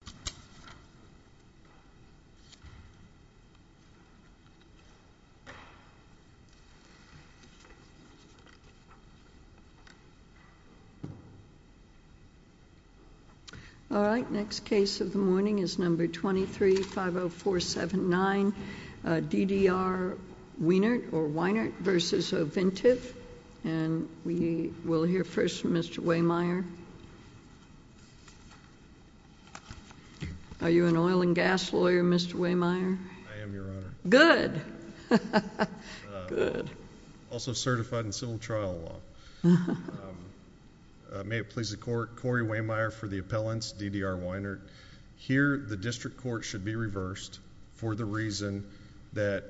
2350479 D.D.R. Weinert v. Ovintiv And we will hear first from Mr. Wehmeyer. Are you an oil and gas lawyer, Mr. Wehmeyer? I am, Your Honor. Good. Good. Also certified in civil trial law. May it please the court, Corey Wehmeyer for the appellants, D.D.R. Weinert. Here the district court should be reversed for the reason that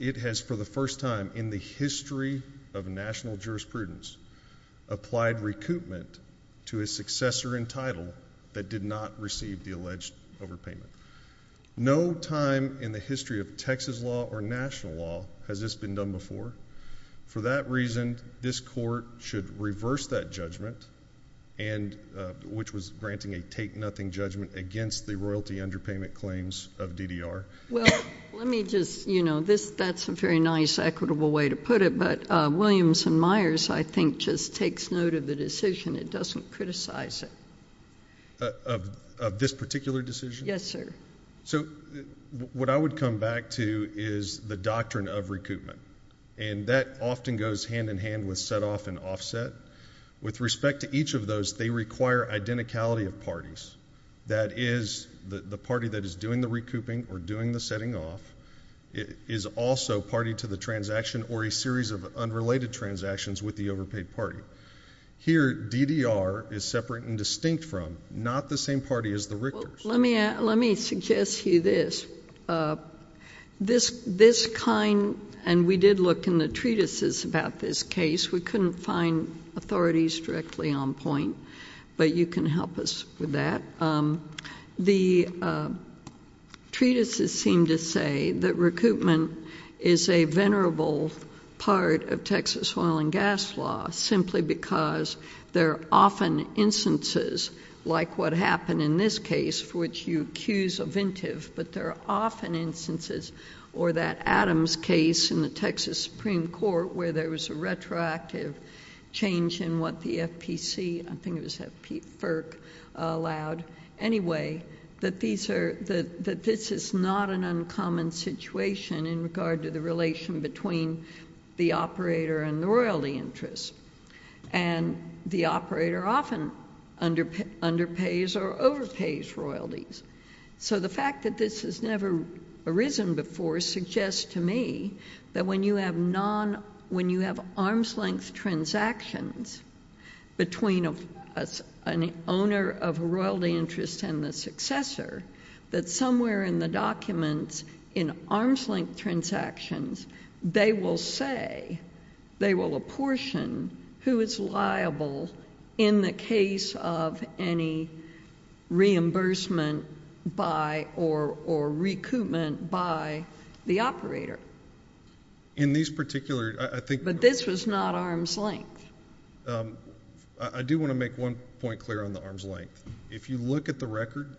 it has for the first time in the history of national jurisprudence applied recoupment to a successor in title that did not receive the alleged overpayment. No time in the history of Texas law or national law has this been done before. For that reason, this court should reverse that judgment, which was granting a take-nothing judgment against the royalty underpayment claims of D.D.R. Well, let me just, you know, that's a very nice equitable way to put it, but Williams and Myers, I think, just takes note of the decision. It doesn't criticize it. Of this particular decision? Yes, sir. So what I would come back to is the doctrine of recoupment, and that often goes hand-in-hand with set-off and offset. With respect to each of those, they require identicality of parties. That is, the party that is doing the recouping or doing the setting off is also party to the transaction or a series of unrelated transactions with the overpaid party. Here, D.D.R. is separate and distinct from, not the same party as the Richters. Let me suggest to you this. This kind, and we did look in the treatises about this case. We couldn't find authorities directly on point, but you can help us with that. The treatises seem to say that recoupment is a venerable part of Texas oil and gas law simply because there are often instances, like what happened in this case, for which you accuse a vintive, but there are often instances, or that Adams case in the Texas Supreme Court, where there was a retroactive change in what the FPC, I think it was FERC, allowed. Anyway, that this is not an uncommon situation in regard to the relation between the operator and the royalty interest, and the operator often underpays or overpays royalties. The fact that this has never arisen before suggests to me that when you have arms-length transactions between an owner of a royalty interest and the successor, that somewhere in the documents in arms-length transactions, they will say, they will apportion who is liable in the case of any reimbursement by or recoupment by the operator. In these particular, I think... But this was not arms-length. I do want to make one point clear on the arms-length. If you look at the record,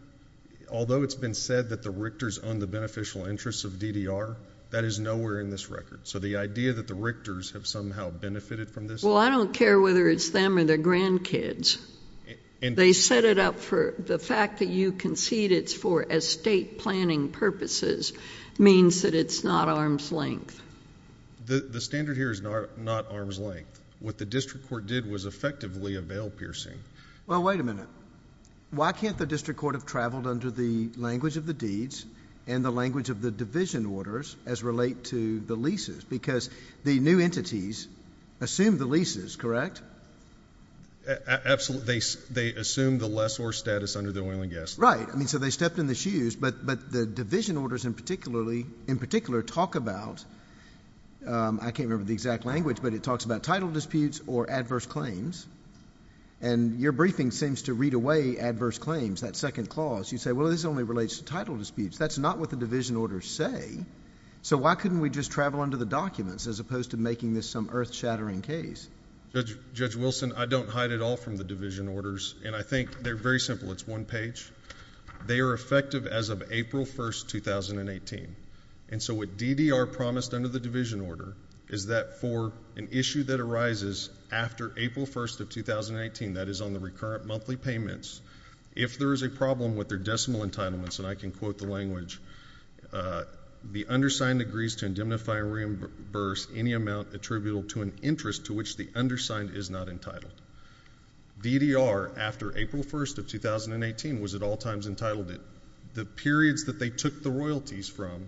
although it's been said that the Richters own the beneficial interests of DDR, that is nowhere in this record. So the idea that the Richters have somehow benefited from this... Well, I don't care whether it's them or their grandkids. They set it up for... the fact that you concede it's for estate planning purposes means that it's not arms-length. The standard here is not arms-length. What the district court did was effectively avail piercing. Well, wait a minute. Why can't the district court have traveled under the language of the deeds and the language of the division orders as relate to the leases? Because the new entities assume the leases, correct? Absolutely. They assume the lessor status under the oil and gas... I mean, so they stepped in the shoes. But the division orders in particular talk about... I can't remember the exact language, but it talks about title disputes or adverse claims. And your briefing seems to read away adverse claims, that second clause. You say, well, this only relates to title disputes. That's not what the division orders say. So why couldn't we just travel under the documents as opposed to making this some earth-shattering case? Judge Wilson, I don't hide at all from the division orders. And I think they're very simple. It's one page. They are effective as of April 1st, 2018. And so what DDR promised under the division order is that for an issue that arises after April 1st of 2018, that is on the recurrent monthly payments, if there is a problem with their decimal entitlements, and I can quote the language, the undersigned agrees to indemnify or reimburse any amount attributable to an interest to which the undersigned is not entitled. DDR, after April 1st of 2018, was at all times entitled. The periods that they took the royalties from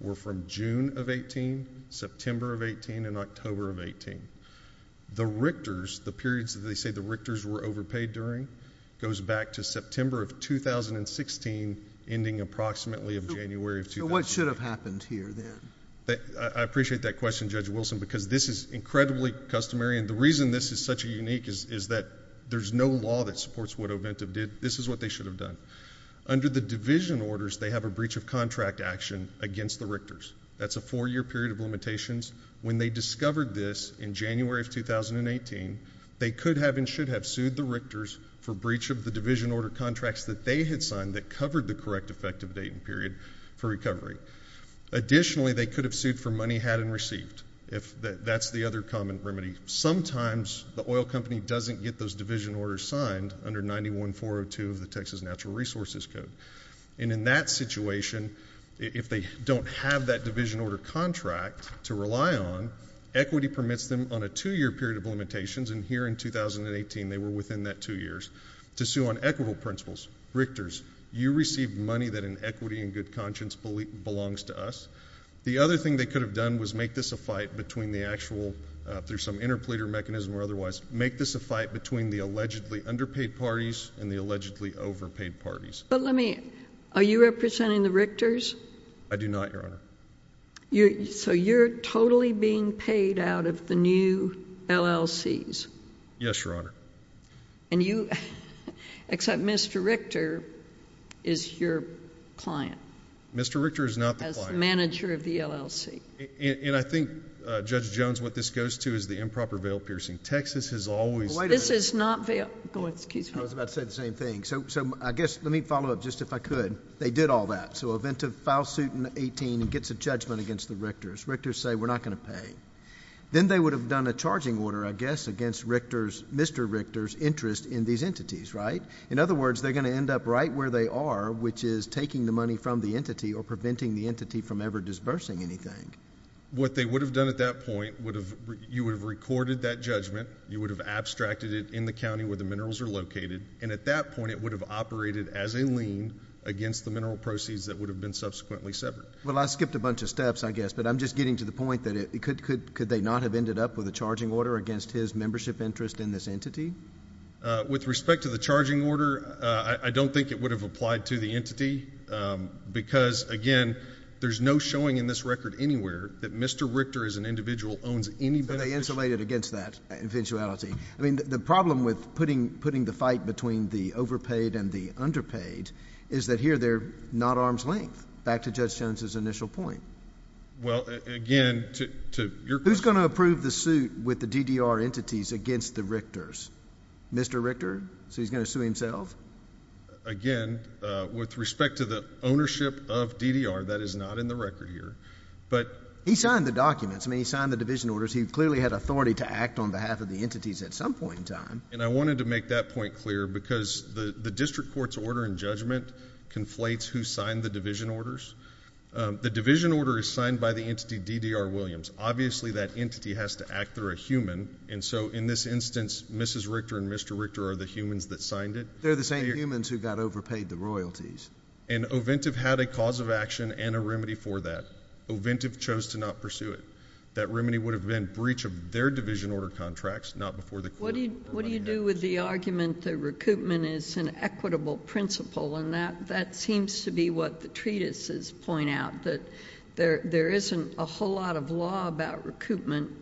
were from June of 18, September of 18, and October of 18. The Richters, the periods that they say the Richters were overpaid during, goes back to September of 2016, ending approximately of January of 2018. So what should have happened here then? I appreciate that question, Judge Wilson, because this is incredibly customary. I mean, the reason this is such a unique is that there's no law that supports what Oventa did. This is what they should have done. Under the division orders, they have a breach of contract action against the Richters. That's a four-year period of limitations. When they discovered this in January of 2018, they could have and should have sued the Richters for breach of the division order contracts that they had signed that covered the correct effective date and period for recovery. Additionally, they could have sued for money had and received. That's the other common remedy. Sometimes the oil company doesn't get those division orders signed under 91402 of the Texas Natural Resources Code. And in that situation, if they don't have that division order contract to rely on, equity permits them on a two-year period of limitations, and here in 2018, they were within that two years, to sue on equitable principles. Richters, you received money that in equity and good conscience belongs to us. The other thing they could have done was make this a fight between the actual, through some interpleader mechanism or otherwise, make this a fight between the allegedly underpaid parties and the allegedly overpaid parties. But let me, are you representing the Richters? I do not, Your Honor. So you're totally being paid out of the new LLCs? Yes, Your Honor. And you, except Mr. Richter is your client. Mr. Richter is not the client. As the manager of the LLC. And I think, Judge Jones, what this goes to is the improper veil piercing. Texas has always done this. This is not veil, excuse me. I was about to say the same thing. So I guess, let me follow up just if I could. They did all that. So a file suit in 18 gets a judgment against the Richters. Richters say we're not going to pay. Then they would have done a charging order, I guess, against Richter's, Mr. Richter's interest in these entities, right? In other words, they're going to end up right where they are, which is taking the money from the entity or preventing the entity from ever disbursing anything. What they would have done at that point would have, you would have recorded that judgment. You would have abstracted it in the county where the minerals are located. And at that point, it would have operated as a lien against the mineral proceeds that would have been subsequently severed. Well, I skipped a bunch of steps, I guess, but I'm just getting to the point that could they not have ended up with a charging order against his membership interest in this entity? With respect to the charging order, I don't think it would have applied to the entity because, again, there's no showing in this record anywhere that Mr. Richter as an individual owns any benefit. So they insulated against that eventuality. I mean, the problem with putting the fight between the overpaid and the underpaid is that here they're not arm's length. Back to Judge Jones's initial point. Well, again, to your question. Who's going to approve the suit with the DDR entities against the Richters? Mr. Richter? So he's going to sue himself? Again, with respect to the ownership of DDR, that is not in the record here. But he signed the documents. I mean, he signed the division orders. He clearly had authority to act on behalf of the entities at some point in time. And I wanted to make that point clear because the district court's order in judgment conflates who signed the division orders. The division order is signed by the entity DDR Williams. Obviously, that entity has to act through a human. And so in this instance, Mrs. Richter and Mr. Richter are the humans that signed it. They're the same humans who got overpaid the royalties. And Oventive had a cause of action and a remedy for that. Oventive chose to not pursue it. That remedy would have been breach of their division order contracts, not before the court. What do you do with the argument that recoupment is an equitable principle? And that seems to be what the treatises point out, that there isn't a whole lot of law about recoupment.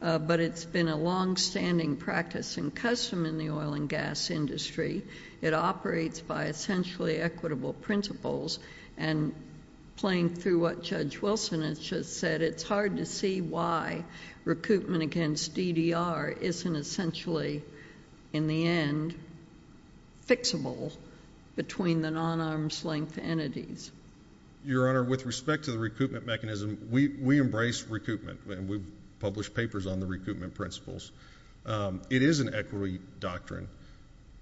But it's been a longstanding practice and custom in the oil and gas industry. It operates by essentially equitable principles. And playing through what Judge Wilson has just said, it's hard to see why recoupment against DDR isn't essentially, in the end, fixable between the non-arm's length entities. Your Honor, with respect to the recoupment mechanism, we embrace recoupment. And we publish papers on the recoupment principles. It is an equity doctrine.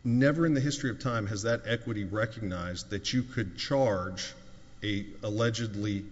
Never in the history of time has that equity recognized that you could charge an allegedly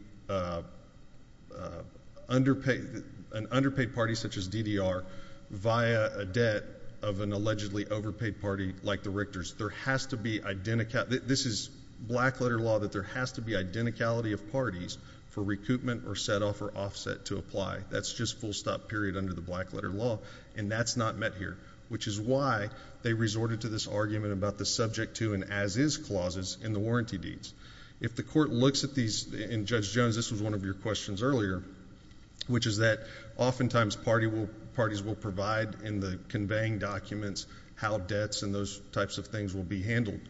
underpaid party, such as DDR, via a debt of an allegedly overpaid party like the Richter's. This is black-letter law that there has to be identicality of parties for recoupment or set-off or offset to apply. That's just full-stop period under the black-letter law. And that's not met here. Which is why they resorted to this argument about the subject to and as is clauses in the warranty deeds. If the court looks at these, and Judge Jones, this was one of your questions earlier, which is that oftentimes parties will provide in the conveying documents how debts and those types of things will be handled.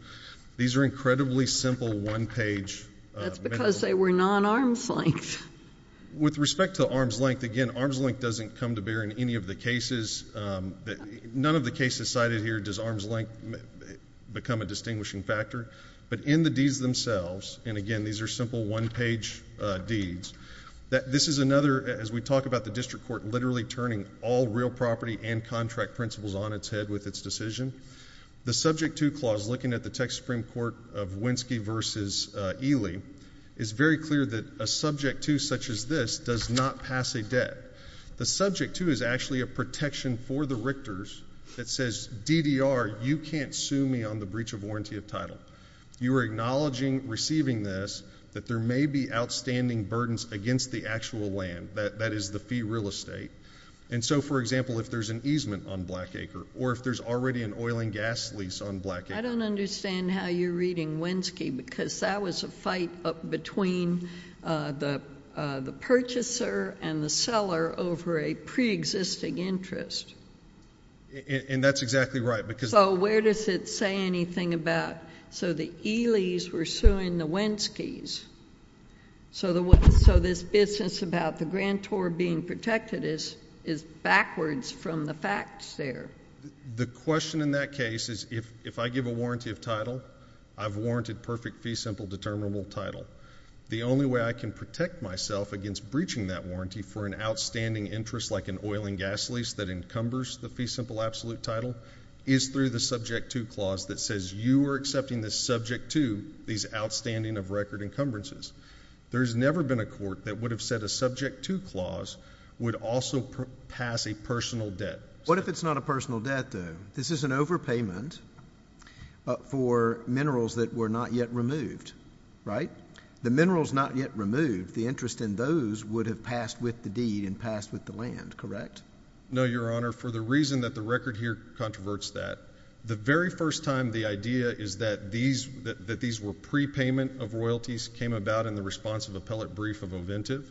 These are incredibly simple one-page. That's because they were non-arm's length. With respect to arm's length, again, arm's length doesn't come to bear in any of the cases. None of the cases cited here does arm's length become a distinguishing factor. But in the deeds themselves, and again, these are simple one-page deeds. This is another, as we talk about the district court literally turning all real property and contract principles on its head with its decision. The subject to clause, looking at the Texas Supreme Court of Winsky v. Ely, is very clear that a subject to such as this does not pass a debt. The subject to is actually a protection for the Richter's that says, DDR, you can't sue me on the breach of warranty of title. You are acknowledging receiving this that there may be outstanding burdens against the actual land. That is the fee real estate. And so, for example, if there's an easement on Black Acre or if there's already an oil and gas lease on Black Acre. I don't understand how you're reading Winsky because that was a fight between the purchaser and the seller over a preexisting interest. And that's exactly right. So where does it say anything about so the Ely's were suing the Winsky's? So this business about the grand tour being protected is backwards from the facts there. The question in that case is if I give a warranty of title, I've warranted perfect fee simple determinable title. The only way I can protect myself against breaching that warranty for an outstanding interest like an oil and gas lease that encumbers the fee simple absolute title is through the subject to clause that says you are accepting the subject to these outstanding of record encumbrances. There's never been a court that would have said a subject to clause would also pass a personal debt. What if it's not a personal debt, though? This is an overpayment for minerals that were not yet removed, right? The minerals not yet removed, the interest in those would have passed with the deed and passed with the land, correct? No, Your Honor. Your Honor, for the reason that the record here controverts that, the very first time the idea is that these were prepayment of royalties came about in the responsive appellate brief of Oventive.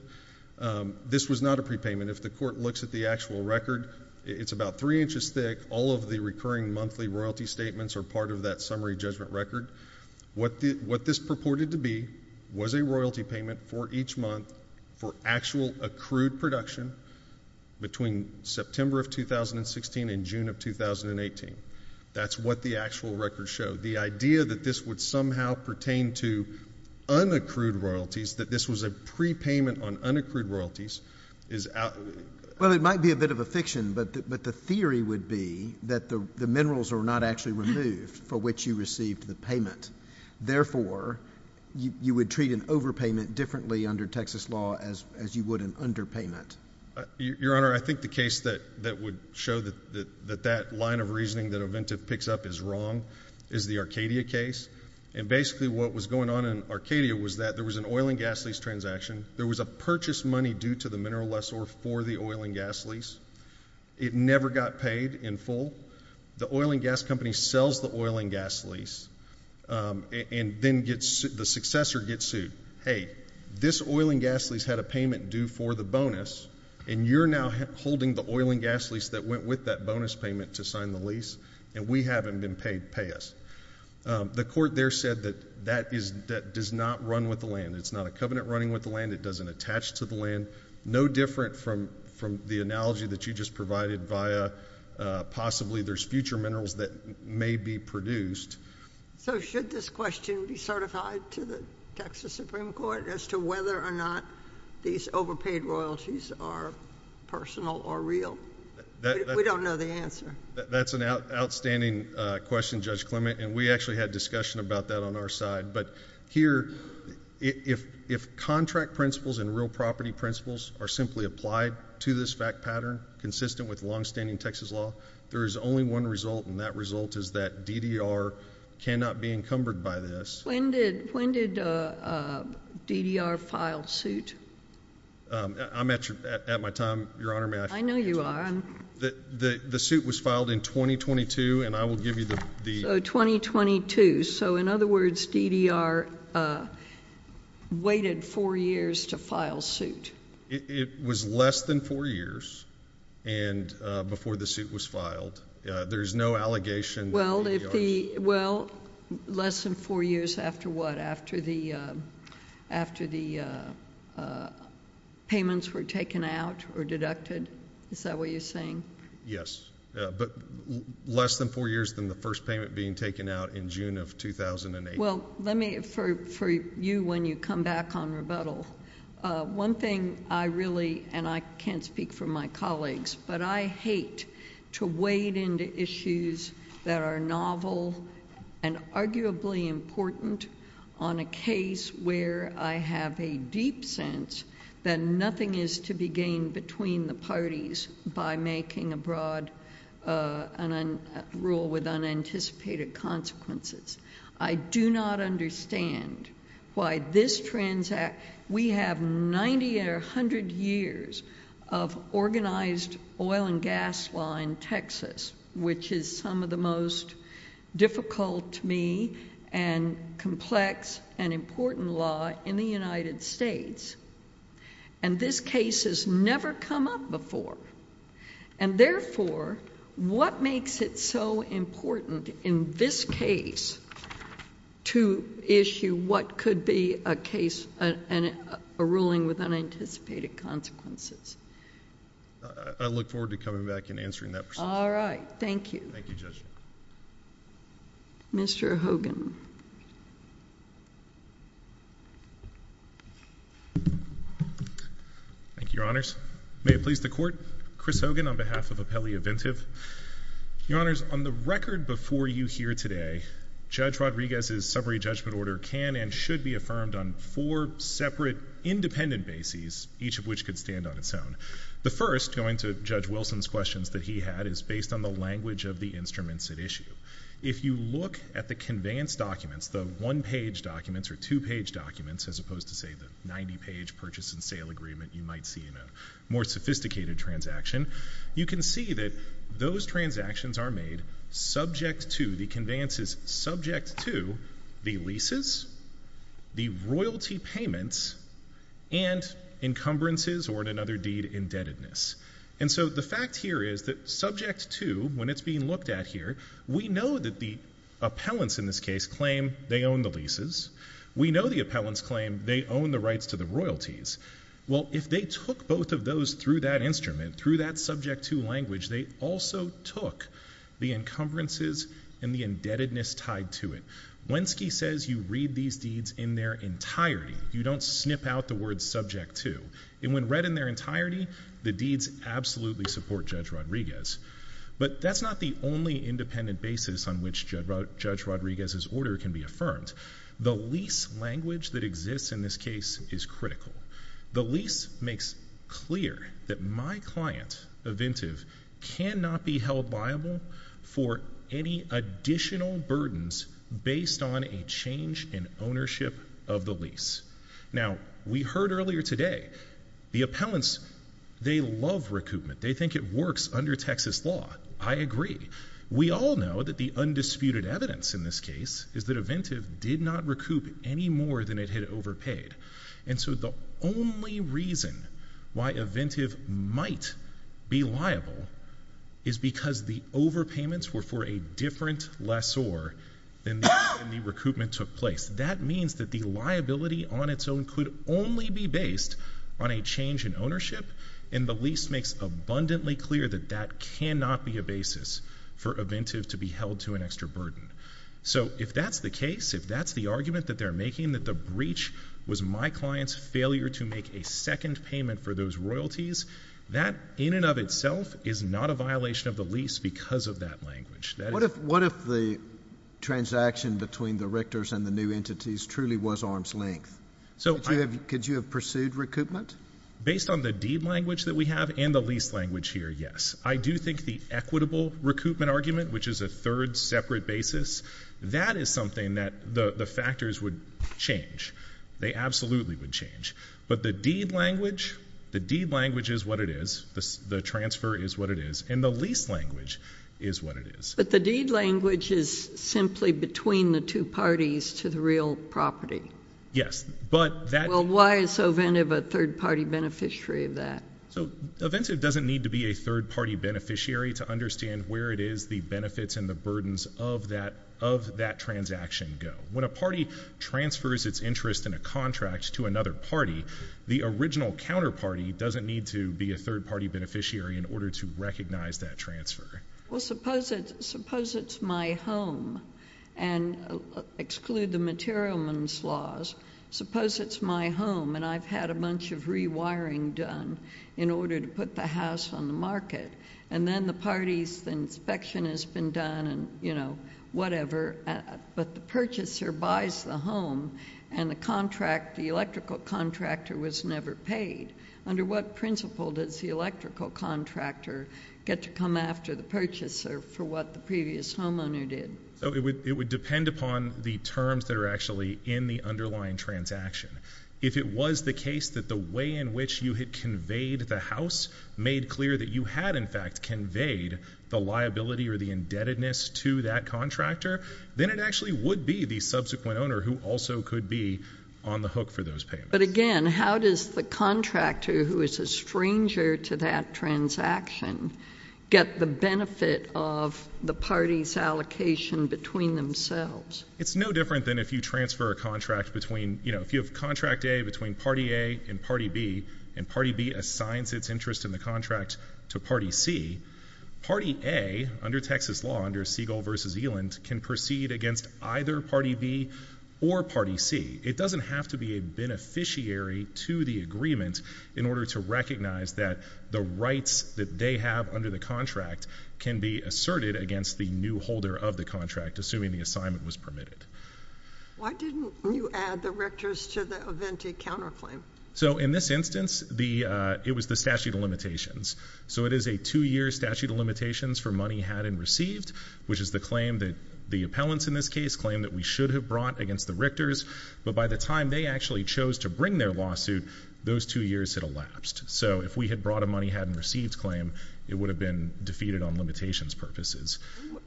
This was not a prepayment. If the court looks at the actual record, it's about three inches thick. All of the recurring monthly royalty statements are part of that summary judgment record. What this purported to be was a royalty payment for each month for actual accrued production between September of 2016 and June of 2018. That's what the actual record showed. The idea that this would somehow pertain to unaccrued royalties, that this was a prepayment on unaccrued royalties is out. Well, it might be a bit of a fiction, but the theory would be that the minerals were not actually removed for which you received the payment. Therefore, you would treat an overpayment differently under Texas law as you would an underpayment. Your Honor, I think the case that would show that that line of reasoning that Oventive picks up is wrong is the Arcadia case. Basically, what was going on in Arcadia was that there was an oil and gas lease transaction. There was a purchase money due to the mineral lessor for the oil and gas lease. It never got paid in full. The oil and gas company sells the oil and gas lease, and then the successor gets sued. Hey, this oil and gas lease had a payment due for the bonus, and you're now holding the oil and gas lease that went with that bonus payment to sign the lease, and we haven't been paid. Pay us. The court there said that that does not run with the land. It's not a covenant running with the land. It doesn't attach to the land. No different from the analogy that you just provided via possibly there's future minerals that may be produced. So, should this question be certified to the Texas Supreme Court as to whether or not these overpaid royalties are personal or real? We don't know the answer. That's an outstanding question, Judge Clement, and we actually had discussion about that on our side. But here, if contract principles and real property principles are simply applied to this fact pattern, consistent with longstanding Texas law, there is only one result, and that result is that DDR cannot be encumbered by this. When did DDR file suit? I'm at my time, Your Honor. I know you are. The suit was filed in 2022, and I will give you the— Oh, 2022. So, in other words, DDR waited four years to file suit. It was less than four years before the suit was filed. There is no allegation that DDR— Well, less than four years after what? After the payments were taken out or deducted? Is that what you're saying? Yes. Less than four years. But less than four years than the first payment being taken out in June of 2008. Well, let me—for you when you come back on rebuttal, one thing I really—and I can't speak for my colleagues, but I hate to wade into issues that are novel and arguably important on a case where I have a deep sense that nothing is to be gained between the parties by making a broad rule with unanticipated consequences. I do not understand why this transact—we have 90 or 100 years of organized oil and gas law in Texas, which is some of the most difficult to me and complex and important law in the United States. And this case has never come up before. And therefore, what makes it so important in this case to issue what could be a ruling with unanticipated consequences? I look forward to coming back and answering that question. All right. Thank you. Thank you, Judge. Mr. Hogan. Thank you, Your Honors. May it please the Court, Chris Hogan on behalf of Apelli Inventive. Your Honors, on the record before you here today, Judge Rodriguez's summary judgment order can and should be affirmed on four separate independent bases, each of which could stand on its own. The first, going to Judge Wilson's questions that he had, is based on the language of the instruments at issue. If you look at the conveyance documents, the one-page documents or two-page documents, as opposed to, say, the 90-page purchase and sale agreement you might see in a more sophisticated transaction, you can see that those transactions are made subject to, the conveyances subject to, the leases, the royalty payments, and encumbrances or, in another deed, indebtedness. And so the fact here is that subject to, when it's being looked at here, we know that the appellants in this case claim they own the leases. We know the appellants claim they own the rights to the royalties. Well, if they took both of those through that instrument, through that subject to language, they also took the encumbrances and the indebtedness tied to it. Wenske says you read these deeds in their entirety. You don't snip out the word subject to. And when read in their entirety, the deeds absolutely support Judge Rodriguez. But that's not the only independent basis on which Judge Rodriguez's order can be affirmed. The lease language that exists in this case is critical. The lease makes clear that my client, a vintive, cannot be held liable for any additional burdens based on a change in ownership of the lease. Now, we heard earlier today, the appellants, they love recoupment. They think it works under Texas law. I agree. We all know that the undisputed evidence in this case is that a vintive did not recoup any more than it had overpaid. And so the only reason why a vintive might be liable is because the overpayments were for a different lessor than when the recoupment took place. That means that the liability on its own could only be based on a change in ownership, and the lease makes abundantly clear that that cannot be a basis for a vintive to be held to an extra burden. So if that's the case, if that's the argument that they're making, that the breach was my client's failure to make a second payment for those royalties, that in and of itself is not a violation of the lease because of that language. What if the transaction between the rectors and the new entities truly was arm's length? Could you have pursued recoupment? Based on the deed language that we have and the lease language here, yes. I do think the equitable recoupment argument, which is a third separate basis, that is something that the factors would change. They absolutely would change. But the deed language, the deed language is what it is. The transfer is what it is. And the lease language is what it is. But the deed language is simply between the two parties to the real property. Yes. Well, why is a vintive a third-party beneficiary of that? So a vintive doesn't need to be a third-party beneficiary to understand where it is the benefits and the burdens of that transaction go. When a party transfers its interest in a contract to another party, the original counterparty doesn't need to be a third-party beneficiary in order to recognize that transfer. Well, suppose it's my home, and exclude the materialman's laws. Suppose it's my home, and I've had a bunch of rewiring done in order to put the house on the market. And then the party's inspection has been done and, you know, whatever. But the purchaser buys the home, and the contract, the electrical contractor was never paid. Under what principle does the electrical contractor get to come after the purchaser for what the previous homeowner did? It would depend upon the terms that are actually in the underlying transaction. If it was the case that the way in which you had conveyed the house made clear that you had, in fact, conveyed the liability or the indebtedness to that contractor, then it actually would be the subsequent owner who also could be on the hook for those payments. But, again, how does the contractor who is a stranger to that transaction get the benefit of the party's allocation between themselves? It's no different than if you transfer a contract between, you know, if you have contract A between party A and party B, and party B assigns its interest in the contract to party C, party A, under Texas law, under Siegel v. Eland, can proceed against either party B or party C. It doesn't have to be a beneficiary to the agreement in order to recognize that the rights that they have under the contract can be asserted against the new holder of the contract, assuming the assignment was permitted. Why didn't you add the Richters to the Aventi counterclaim? So, in this instance, it was the statute of limitations. So it is a two-year statute of limitations for money had and received, which is the claim that the appellants in this case claim that we should have brought against the Richters, but by the time they actually chose to bring their lawsuit, those two years had elapsed. So if we had brought a money-had-and-received claim, it would have been defeated on limitations purposes.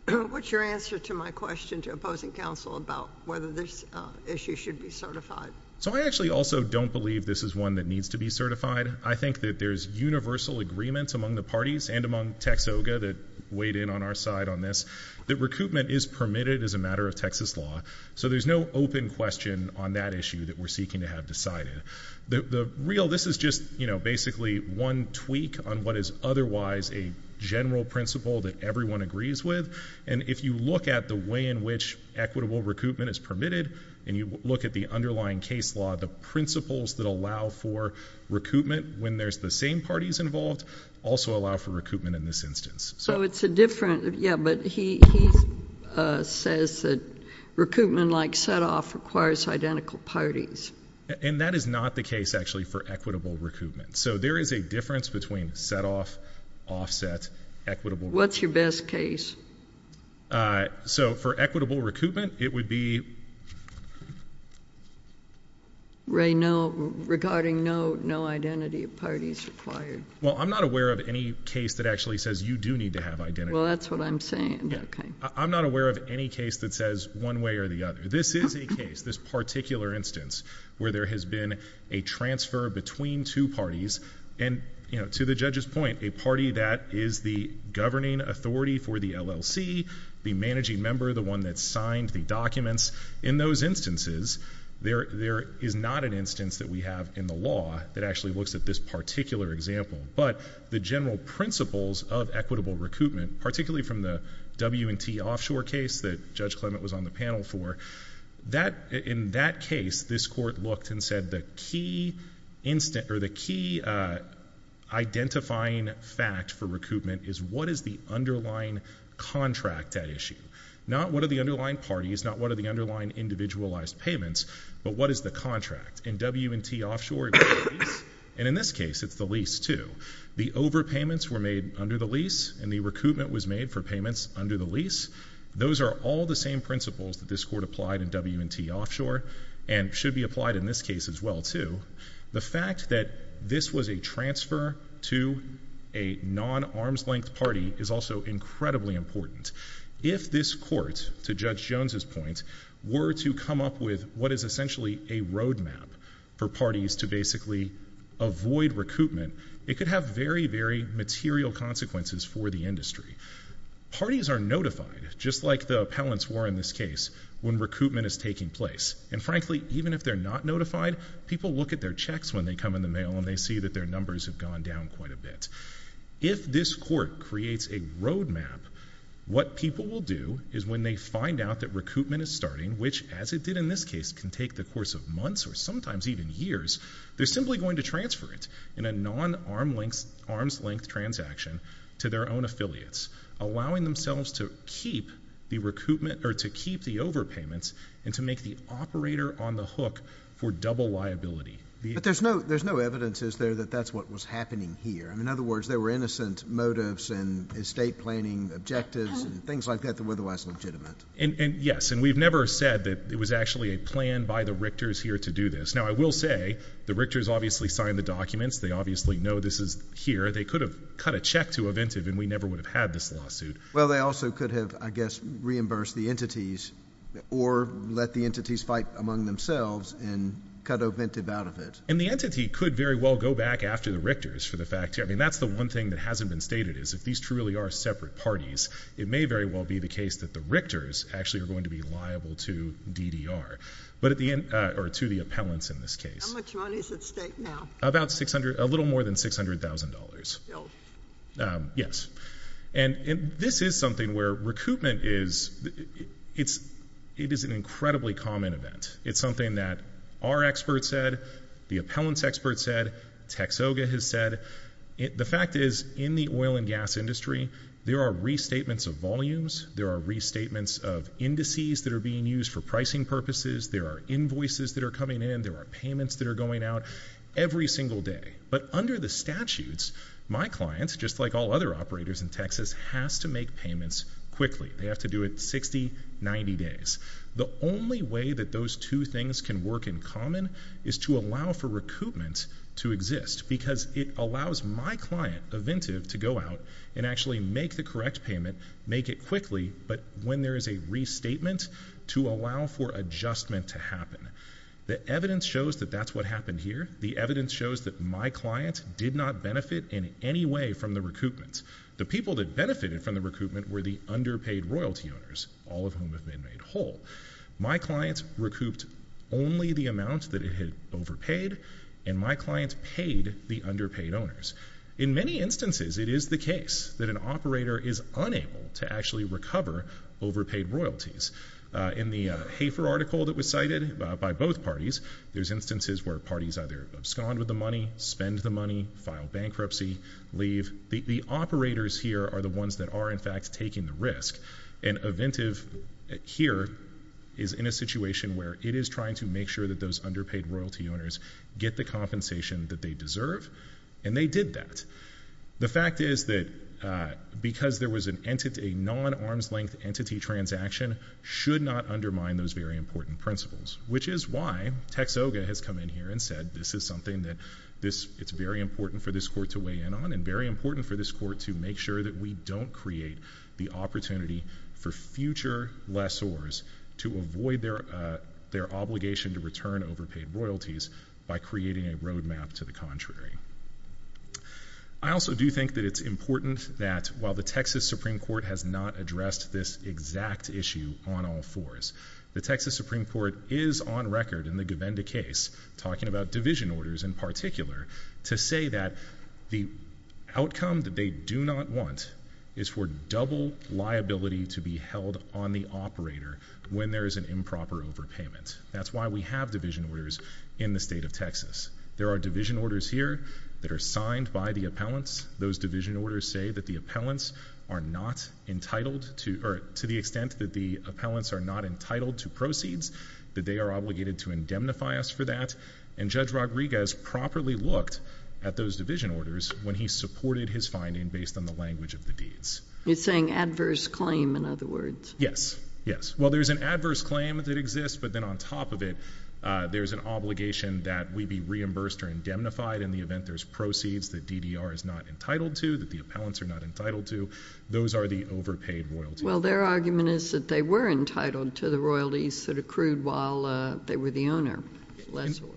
What's your answer to my question to opposing counsel about whether this issue should be certified? So I actually also don't believe this is one that needs to be certified. I think that there's universal agreement among the parties and among TexOGA that weighed in on our side on this that recoupment is permitted as a matter of Texas law, so there's no open question on that issue that we're seeking to have decided. This is just basically one tweak on what is otherwise a general principle that everyone agrees with, and if you look at the way in which equitable recoupment is permitted, and you look at the underlying case law, the principles that allow for recoupment when there's the same parties involved also allow for recoupment in this instance. So it's a different, yeah, but he says that recoupment like set-off requires identical parties. And that is not the case, actually, for equitable recoupment. So there is a difference between set-off, offset, equitable. What's your best case? So for equitable recoupment, it would be... Ray, no, regarding no, no identity of parties required. Well, I'm not aware of any case that actually says you do need to have identity. Well, that's what I'm saying. I'm not aware of any case that says one way or the other. This is a case, this particular instance, where there has been a transfer between two parties, and to the judge's point, a party that is the governing authority for the LLC, the managing member, the one that signed the documents, in those instances, there is not an instance that we have in the law that actually looks at this particular example. But the general principles of equitable recoupment, particularly from the W&T offshore case that Judge Clement was on the panel for, in that case, this Court looked and said the key identifying fact for recoupment is what is the underlying contract at issue? Not what are the underlying parties, not what are the underlying individualized payments, but what is the contract? In W&T offshore, it was the lease, and in this case, it's the lease too. The overpayments were made under the lease, and the recoupment was made for payments under the lease. Those are all the same principles that this Court applied in W&T offshore, and should be applied in this case as well too. The fact that this was a transfer to a non-arm's-length party is also incredibly important. If this Court, to Judge Jones's point, were to come up with what is essentially a roadmap for parties to basically avoid recoupment, it could have very, very material consequences for the industry. Parties are notified, just like the appellants were in this case, when recoupment is taking place. And frankly, even if they're not notified, people look at their checks when they come in the mail, and they see that their numbers have gone down quite a bit. If this Court creates a roadmap, what people will do is when they find out that recoupment is starting, which, as it did in this case, can take the course of months or sometimes even years, they're simply going to transfer it in a non-arm's-length transaction to their own affiliates, allowing themselves to keep the overpayments and to make the operator on the hook for double liability. But there's no evidence, is there, that that's what was happening here? In other words, there were innocent motives and estate planning objectives and things like that that were otherwise legitimate. Yes, and we've never said that it was actually a plan by the Richters here to do this. Now, I will say the Richters obviously signed the documents. They obviously know this is here. They could have cut a check to Aventive, and we never would have had this lawsuit. Well, they also could have, I guess, reimbursed the entities or let the entities fight among themselves and cut Aventive out of it. And the entity could very well go back after the Richters for the fact. I mean, that's the one thing that hasn't been stated is if these truly are separate parties, it may very well be the case that the Richters actually are going to be liable to DDR or to the appellants in this case. How much money is at stake now? About $600,000, a little more than $600,000. Still? Yes. And this is something where recoupment is an incredibly common event. It's something that our experts said, the appellants' experts said, TxOGA has said. The fact is in the oil and gas industry, there are restatements of volumes. There are restatements of indices that are being used for pricing purposes. There are invoices that are coming in. There are payments that are going out every single day. But under the statutes, my clients, just like all other operators in Texas, has to make payments quickly. They have to do it 60, 90 days. The only way that those two things can work in common is to allow for recoupment to exist because it allows my client, Eventive, to go out and actually make the correct payment, make it quickly, but when there is a restatement, to allow for adjustment to happen. The evidence shows that that's what happened here. The evidence shows that my client did not benefit in any way from the recoupment. The people that benefited from the recoupment were the underpaid royalty owners, all of whom have been made whole. My client recouped only the amount that it had overpaid, and my client paid the underpaid owners. In many instances, it is the case that an operator is unable to actually recover overpaid royalties. In the Hafer article that was cited by both parties, there's instances where parties either abscond with the money, spend the money, file bankruptcy, leave. The operators here are the ones that are, in fact, taking the risk. And Eventive here is in a situation where it is trying to make sure that those underpaid royalty owners get the compensation that they deserve, and they did that. The fact is that because there was a non-arm's-length entity transaction should not undermine those very important principles, which is why Tex OGA has come in here and said this is something that it's very important for this court to weigh in on and very important for this court to make sure that we don't create the opportunity for future lessors to avoid their obligation to return overpaid royalties by creating a roadmap to the contrary. I also do think that it's important that while the Texas Supreme Court has not addressed this exact issue on all fours, the Texas Supreme Court is on record in the Govinda case talking about division orders in particular to say that the outcome that they do not want is for double liability to be held on the operator when there is an improper overpayment. That's why we have division orders in the state of Texas. There are division orders here that are signed by the appellants. Those division orders say that the appellants are not entitled to, or to the extent that the appellants are not entitled to proceeds, that they are obligated to indemnify us for that. And Judge Rodriguez properly looked at those division orders when he supported his finding based on the language of the deeds. He's saying adverse claim, in other words. Yes, yes. Well, there's an adverse claim that exists, but then on top of it, there's an obligation that we be reimbursed or indemnified in the event there's proceeds that DDR is not entitled to, that the appellants are not entitled to. Those are the overpaid royalties. Well, their argument is that they were entitled to the royalties that accrued while they were the owner, less so.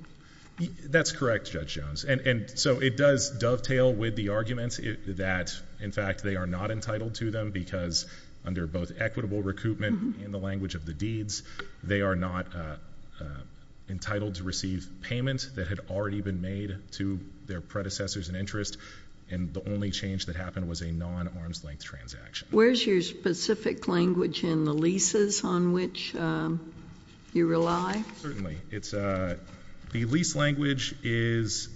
That's correct, Judge Jones. And so it does dovetail with the arguments that, in fact, they are not entitled to them because under both equitable recoupment in the language of the deeds, they are not entitled to receive payment that had already been made to their predecessors in interest. And the only change that happened was a non-arm's length transaction. Where's your specific language in the leases on which you rely? Certainly. The lease language is,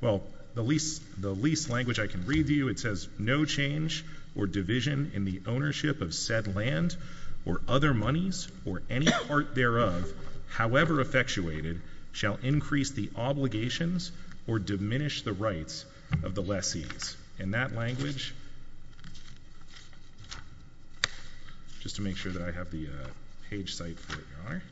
well, the lease language I can read to you, it says, no change or division in the ownership of said land or other monies or any part thereof, however effectuated, shall increase the obligations or diminish the rights of the lessees. And that language, just to make sure that I have the page site where you are,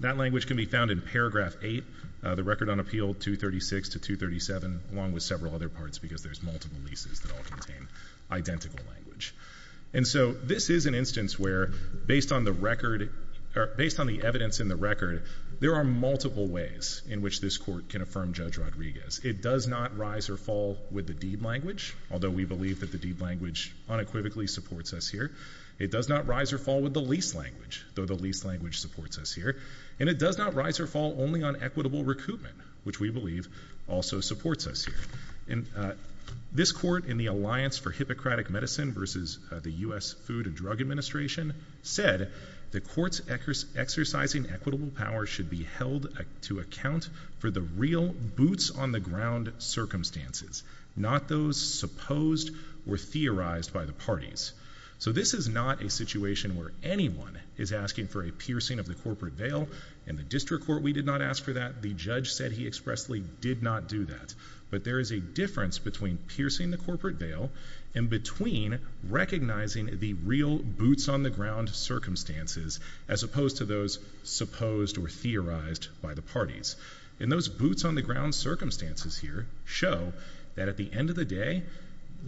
that language can be found in Paragraph 8 of the Record on Appeal 236 to 237, along with several other parts because there's multiple leases that all contain identical language. And so this is an instance where, based on the evidence in the record, there are multiple ways in which this court can affirm Judge Rodriguez. It does not rise or fall with the deed language, although we believe that the deed language unequivocally supports us here. It does not rise or fall with the lease language, though the lease language supports us here. And it does not rise or fall only on equitable recoupment, which we believe also supports us here. This court in the Alliance for Hippocratic Medicine versus the U.S. Food and Drug Administration said, the court's exercising equitable power should be held to account for the real boots-on-the-ground circumstances, not those supposed or theorized by the parties. So this is not a situation where anyone is asking for a piercing of the corporate veil. In the district court, we did not ask for that. The judge said he expressly did not do that. But there is a difference between piercing the corporate veil and between recognizing the real boots-on-the-ground circumstances, as opposed to those supposed or theorized by the parties. And those boots-on-the-ground circumstances here show that at the end of the day,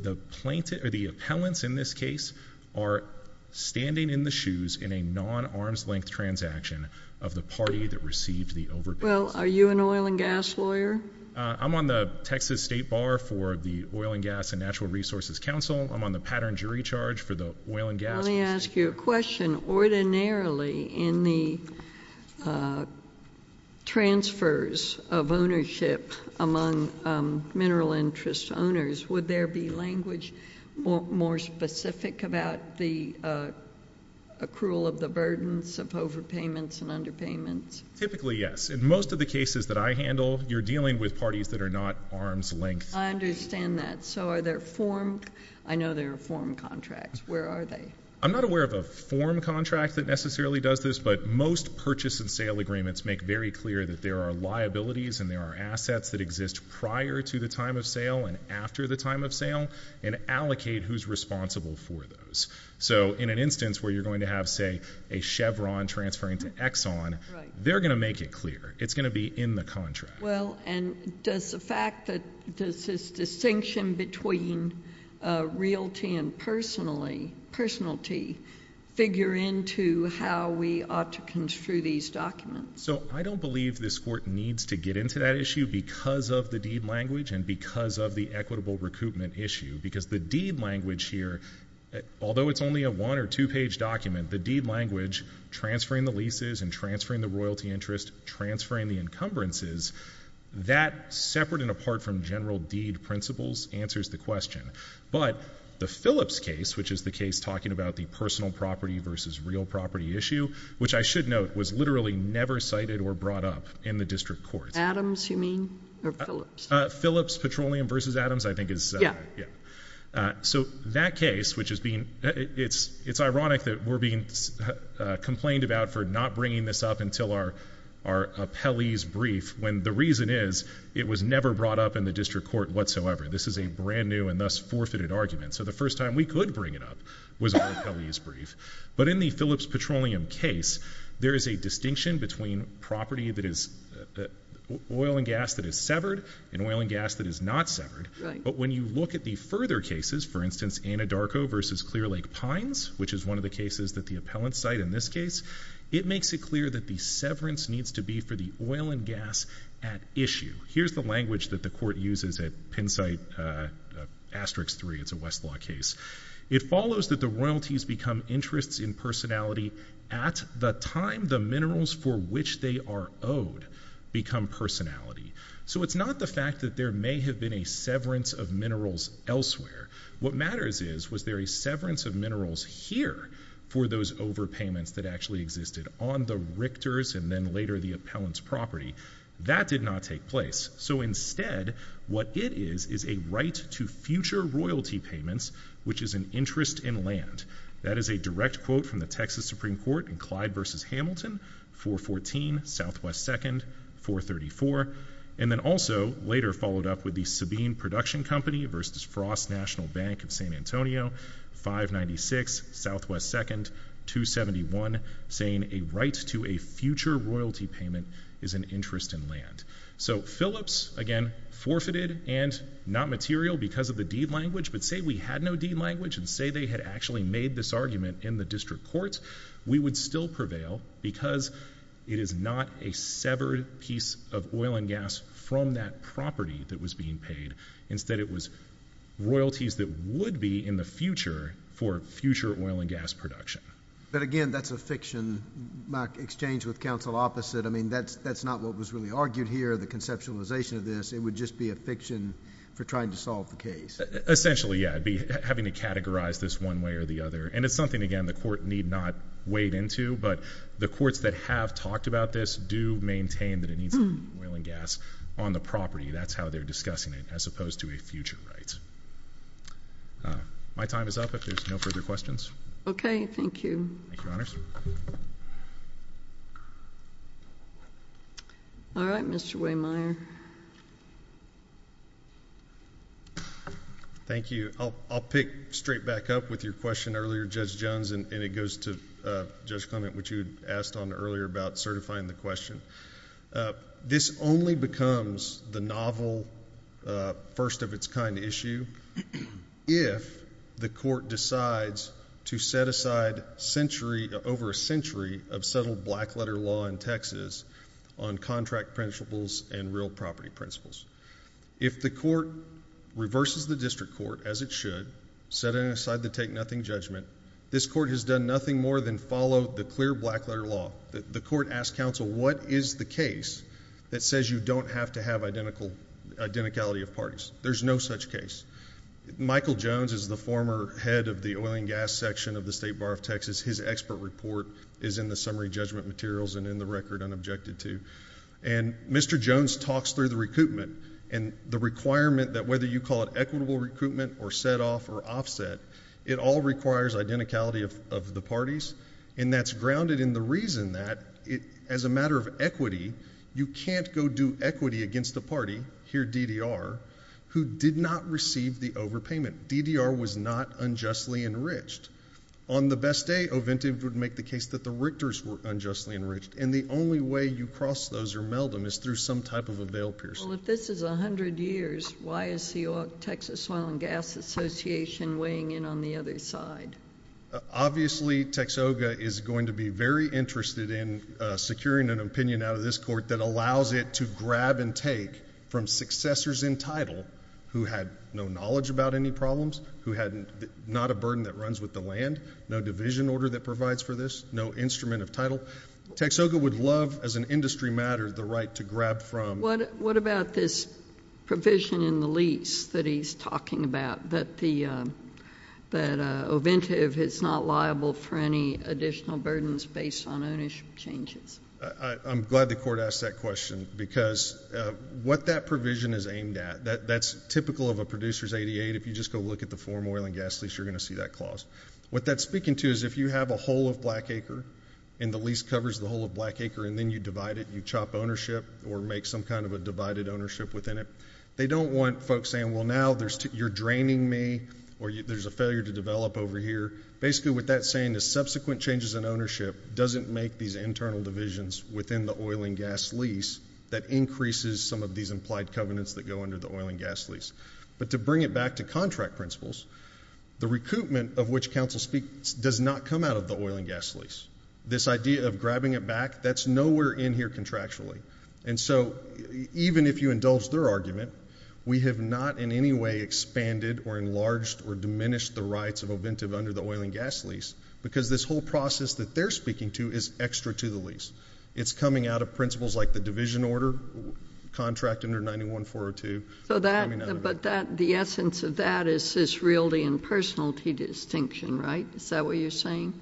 the plaintiff or the appellants in this case are standing in the shoes in a non-arm's-length transaction of the party that received the overpayments. Well, are you an oil and gas lawyer? I'm on the Texas State Bar for the Oil and Gas and Natural Resources Council. I'm on the Pattern Jury Charge for the Oil and Gas— Let me ask you a question. Ordinarily, in the transfers of ownership among mineral interest owners, would there be language more specific about the accrual of the burdens of overpayments and underpayments? Typically, yes. In most of the cases that I handle, you're dealing with parties that are not arm's-length. I understand that. So are there form—I know there are form contracts. Where are they? I'm not aware of a form contract that necessarily does this, but most purchase and sale agreements make very clear that there are liabilities and there are assets that exist prior to the time of sale and after the time of sale and allocate who's responsible for those. So in an instance where you're going to have, say, a Chevron transferring to Exxon, they're going to make it clear. It's going to be in the contract. Well, and does the fact that—does this distinction between realty and personality figure into how we ought to construe these documents? So I don't believe this Court needs to get into that issue because of the deed language and because of the equitable recoupment issue because the deed language here, although it's only a one- or two-page document, the deed language transferring the leases and transferring the royalty interest, transferring the encumbrances, that, separate and apart from general deed principles, answers the question. But the Phillips case, which is the case talking about the personal property versus real property issue, which I should note was literally never cited or brought up in the district courts. Adams, you mean, or Phillips? Phillips Petroleum versus Adams I think is— Yeah. So that case, which is being—it's ironic that we're being complained about for not bringing this up until our appellee's brief when the reason is it was never brought up in the district court whatsoever. This is a brand new and thus forfeited argument. So the first time we could bring it up was our appellee's brief. But in the Phillips Petroleum case, there is a distinction between property that is— oil and gas that is severed and oil and gas that is not severed. Right. But when you look at the further cases, for instance, Anadarko versus Clear Lake Pines, which is one of the cases that the appellants cite in this case, it makes it clear that the severance needs to be for the oil and gas at issue. Here's the language that the court uses at Penn State Asterix 3. It's a Westlaw case. It follows that the royalties become interests in personality at the time the minerals for which they are owed become personality. So it's not the fact that there may have been a severance of minerals elsewhere. What matters is, was there a severance of minerals here for those overpayments that actually existed on the Richter's and then later the appellant's property? That did not take place. So instead, what it is is a right to future royalty payments, which is an interest in land. That is a direct quote from the Texas Supreme Court in Clyde versus Hamilton, 414, SW 2nd, 434, and then also later followed up with the Sabine Production Company versus Frost National Bank of San Antonio, 596 SW 2nd, 271, saying a right to a future royalty payment is an interest in land. So Phillips, again, forfeited and not material because of the deed language, but say we had no deed language and say they had actually made this argument in the district court, we would still prevail because it is not a severed piece of oil and gas from that property that was being paid. Instead, it was royalties that would be in the future for future oil and gas production. But again, that's a fiction. My exchange with counsel opposite, I mean, that's not what was really argued here, the conceptualization of this. It would just be a fiction for trying to solve the case. Essentially, yeah. I'd be having to categorize this one way or the other, and it's something, again, the court need not wade into, but the courts that have talked about this do maintain that it needs to be oil and gas on the property. That's how they're discussing it as opposed to a future right. My time is up if there's no further questions. Okay. Thank you. Thank you, Your Honors. All right. Mr. Wehmeyer. Thank you. I'll pick straight back up with your question earlier, Judge Jones, and it goes to Judge Clement, which you had asked on earlier about certifying the question. This only becomes the novel first-of-its-kind issue if the court decides to set aside over a century of settled black-letter law in Texas on contract principles and real property principles. If the court reverses the district court, as it should, setting aside the take-nothing judgment, this court has done nothing more than follow the clear black-letter law. The court asked counsel, what is the case that says you don't have to have identicality of parties? There's no such case. Michael Jones is the former head of the oil and gas section of the State Bar of Texas. His expert report is in the summary judgment materials and in the record unobjected to. And Mr. Jones talks through the recoupment and the requirement that whether you call it equitable recoupment or set-off or offset, it all requires identicality of the parties, and that's grounded in the reason that, as a matter of equity, you can't go do equity against a party, here DDR, who did not receive the overpayment. DDR was not unjustly enriched. On the best day, OVENTA would make the case that the Richters were unjustly enriched, and the only way you cross those or meld them is through some type of a veil piercing. Well, if this is 100 years, why is the Texas Oil and Gas Association weighing in on the other side? Obviously, Texoga is going to be very interested in securing an opinion out of this court that allows it to grab and take from successors in title who had no knowledge about any problems, who had not a burden that runs with the land, no division order that provides for this, no instrument of title. Texoga would love, as an industry matter, the right to grab from. What about this provision in the lease that he's talking about, that OVENTA is not liable for any additional burdens based on ownership changes? I'm glad the court asked that question because what that provision is aimed at, that's typical of a producer's ADA. If you just go look at the foreign oil and gas lease, you're going to see that clause. What that's speaking to is if you have a whole of black acre and the lease covers the whole of black acre and then you divide it, you chop ownership or make some kind of a divided ownership within it, they don't want folks saying, well, now you're draining me or there's a failure to develop over here. Basically, what that's saying is subsequent changes in ownership doesn't make these internal divisions within the oil and gas lease that increases some of these implied covenants that go under the oil and gas lease. But to bring it back to contract principles, the recoupment of which counsel speaks does not come out of the oil and gas lease. This idea of grabbing it back, that's nowhere in here contractually. And so even if you indulge their argument, we have not in any way expanded or enlarged or diminished the rights of OVENTA under the oil and gas lease because this whole process that they're speaking to is extra to the lease. It's coming out of principles like the division order contract under 91402. But the essence of that is this realty and personality distinction, right? Is that what you're saying?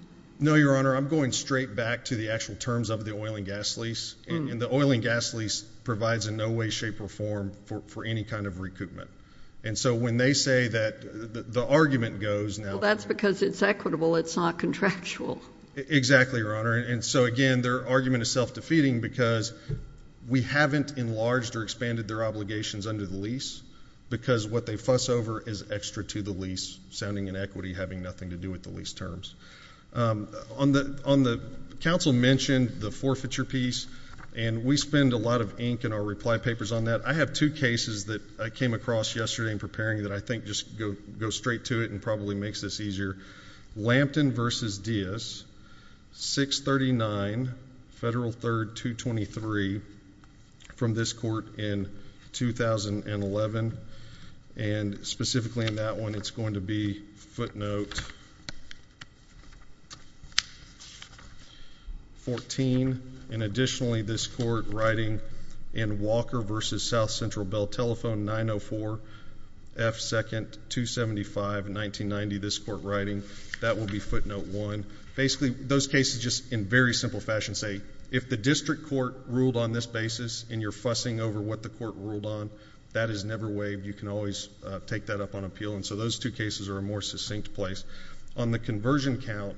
No, Your Honor. I'm going straight back to the actual terms of the oil and gas lease. And the oil and gas lease provides in no way, shape, or form for any kind of recoupment. And so when they say that the argument goes now... Well, that's because it's equitable. It's not contractual. Exactly, Your Honor. And so, again, their argument is self-defeating because we haven't enlarged or expanded their obligations under the lease because what they fuss over is extra to the lease, sounding inequity, having nothing to do with the lease terms. On the counsel mentioned, the forfeiture piece, and we spend a lot of ink in our reply papers on that. I have two cases that I came across yesterday in preparing that I think just go straight to it and probably makes this easier. Lampton v. Diaz, 639 Federal 3rd 223 from this court in 2011. And specifically in that one, it's going to be footnote 14. And additionally, this court writing in Walker v. South Central Bell Telephone, 904 F. 2nd 275, 1990, this court writing, that will be footnote 1. Basically, those cases just in very simple fashion say, if the district court ruled on this basis and you're fussing over what the court ruled on, that is never waived. You can always take that up on appeal. And so those two cases are a more succinct place. On the conversion count,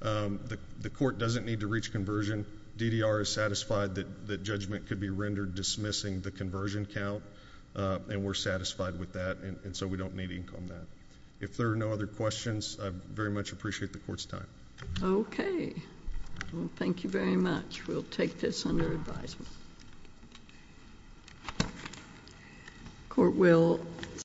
the court doesn't need to reach conversion. DDR is satisfied that judgment could be rendered dismissing the conversion count. And we're satisfied with that. And so we don't need ink on that. If there are no other questions, I very much appreciate the court's time. Okay. Well, thank you very much. We'll take this under advisement. Court will stand.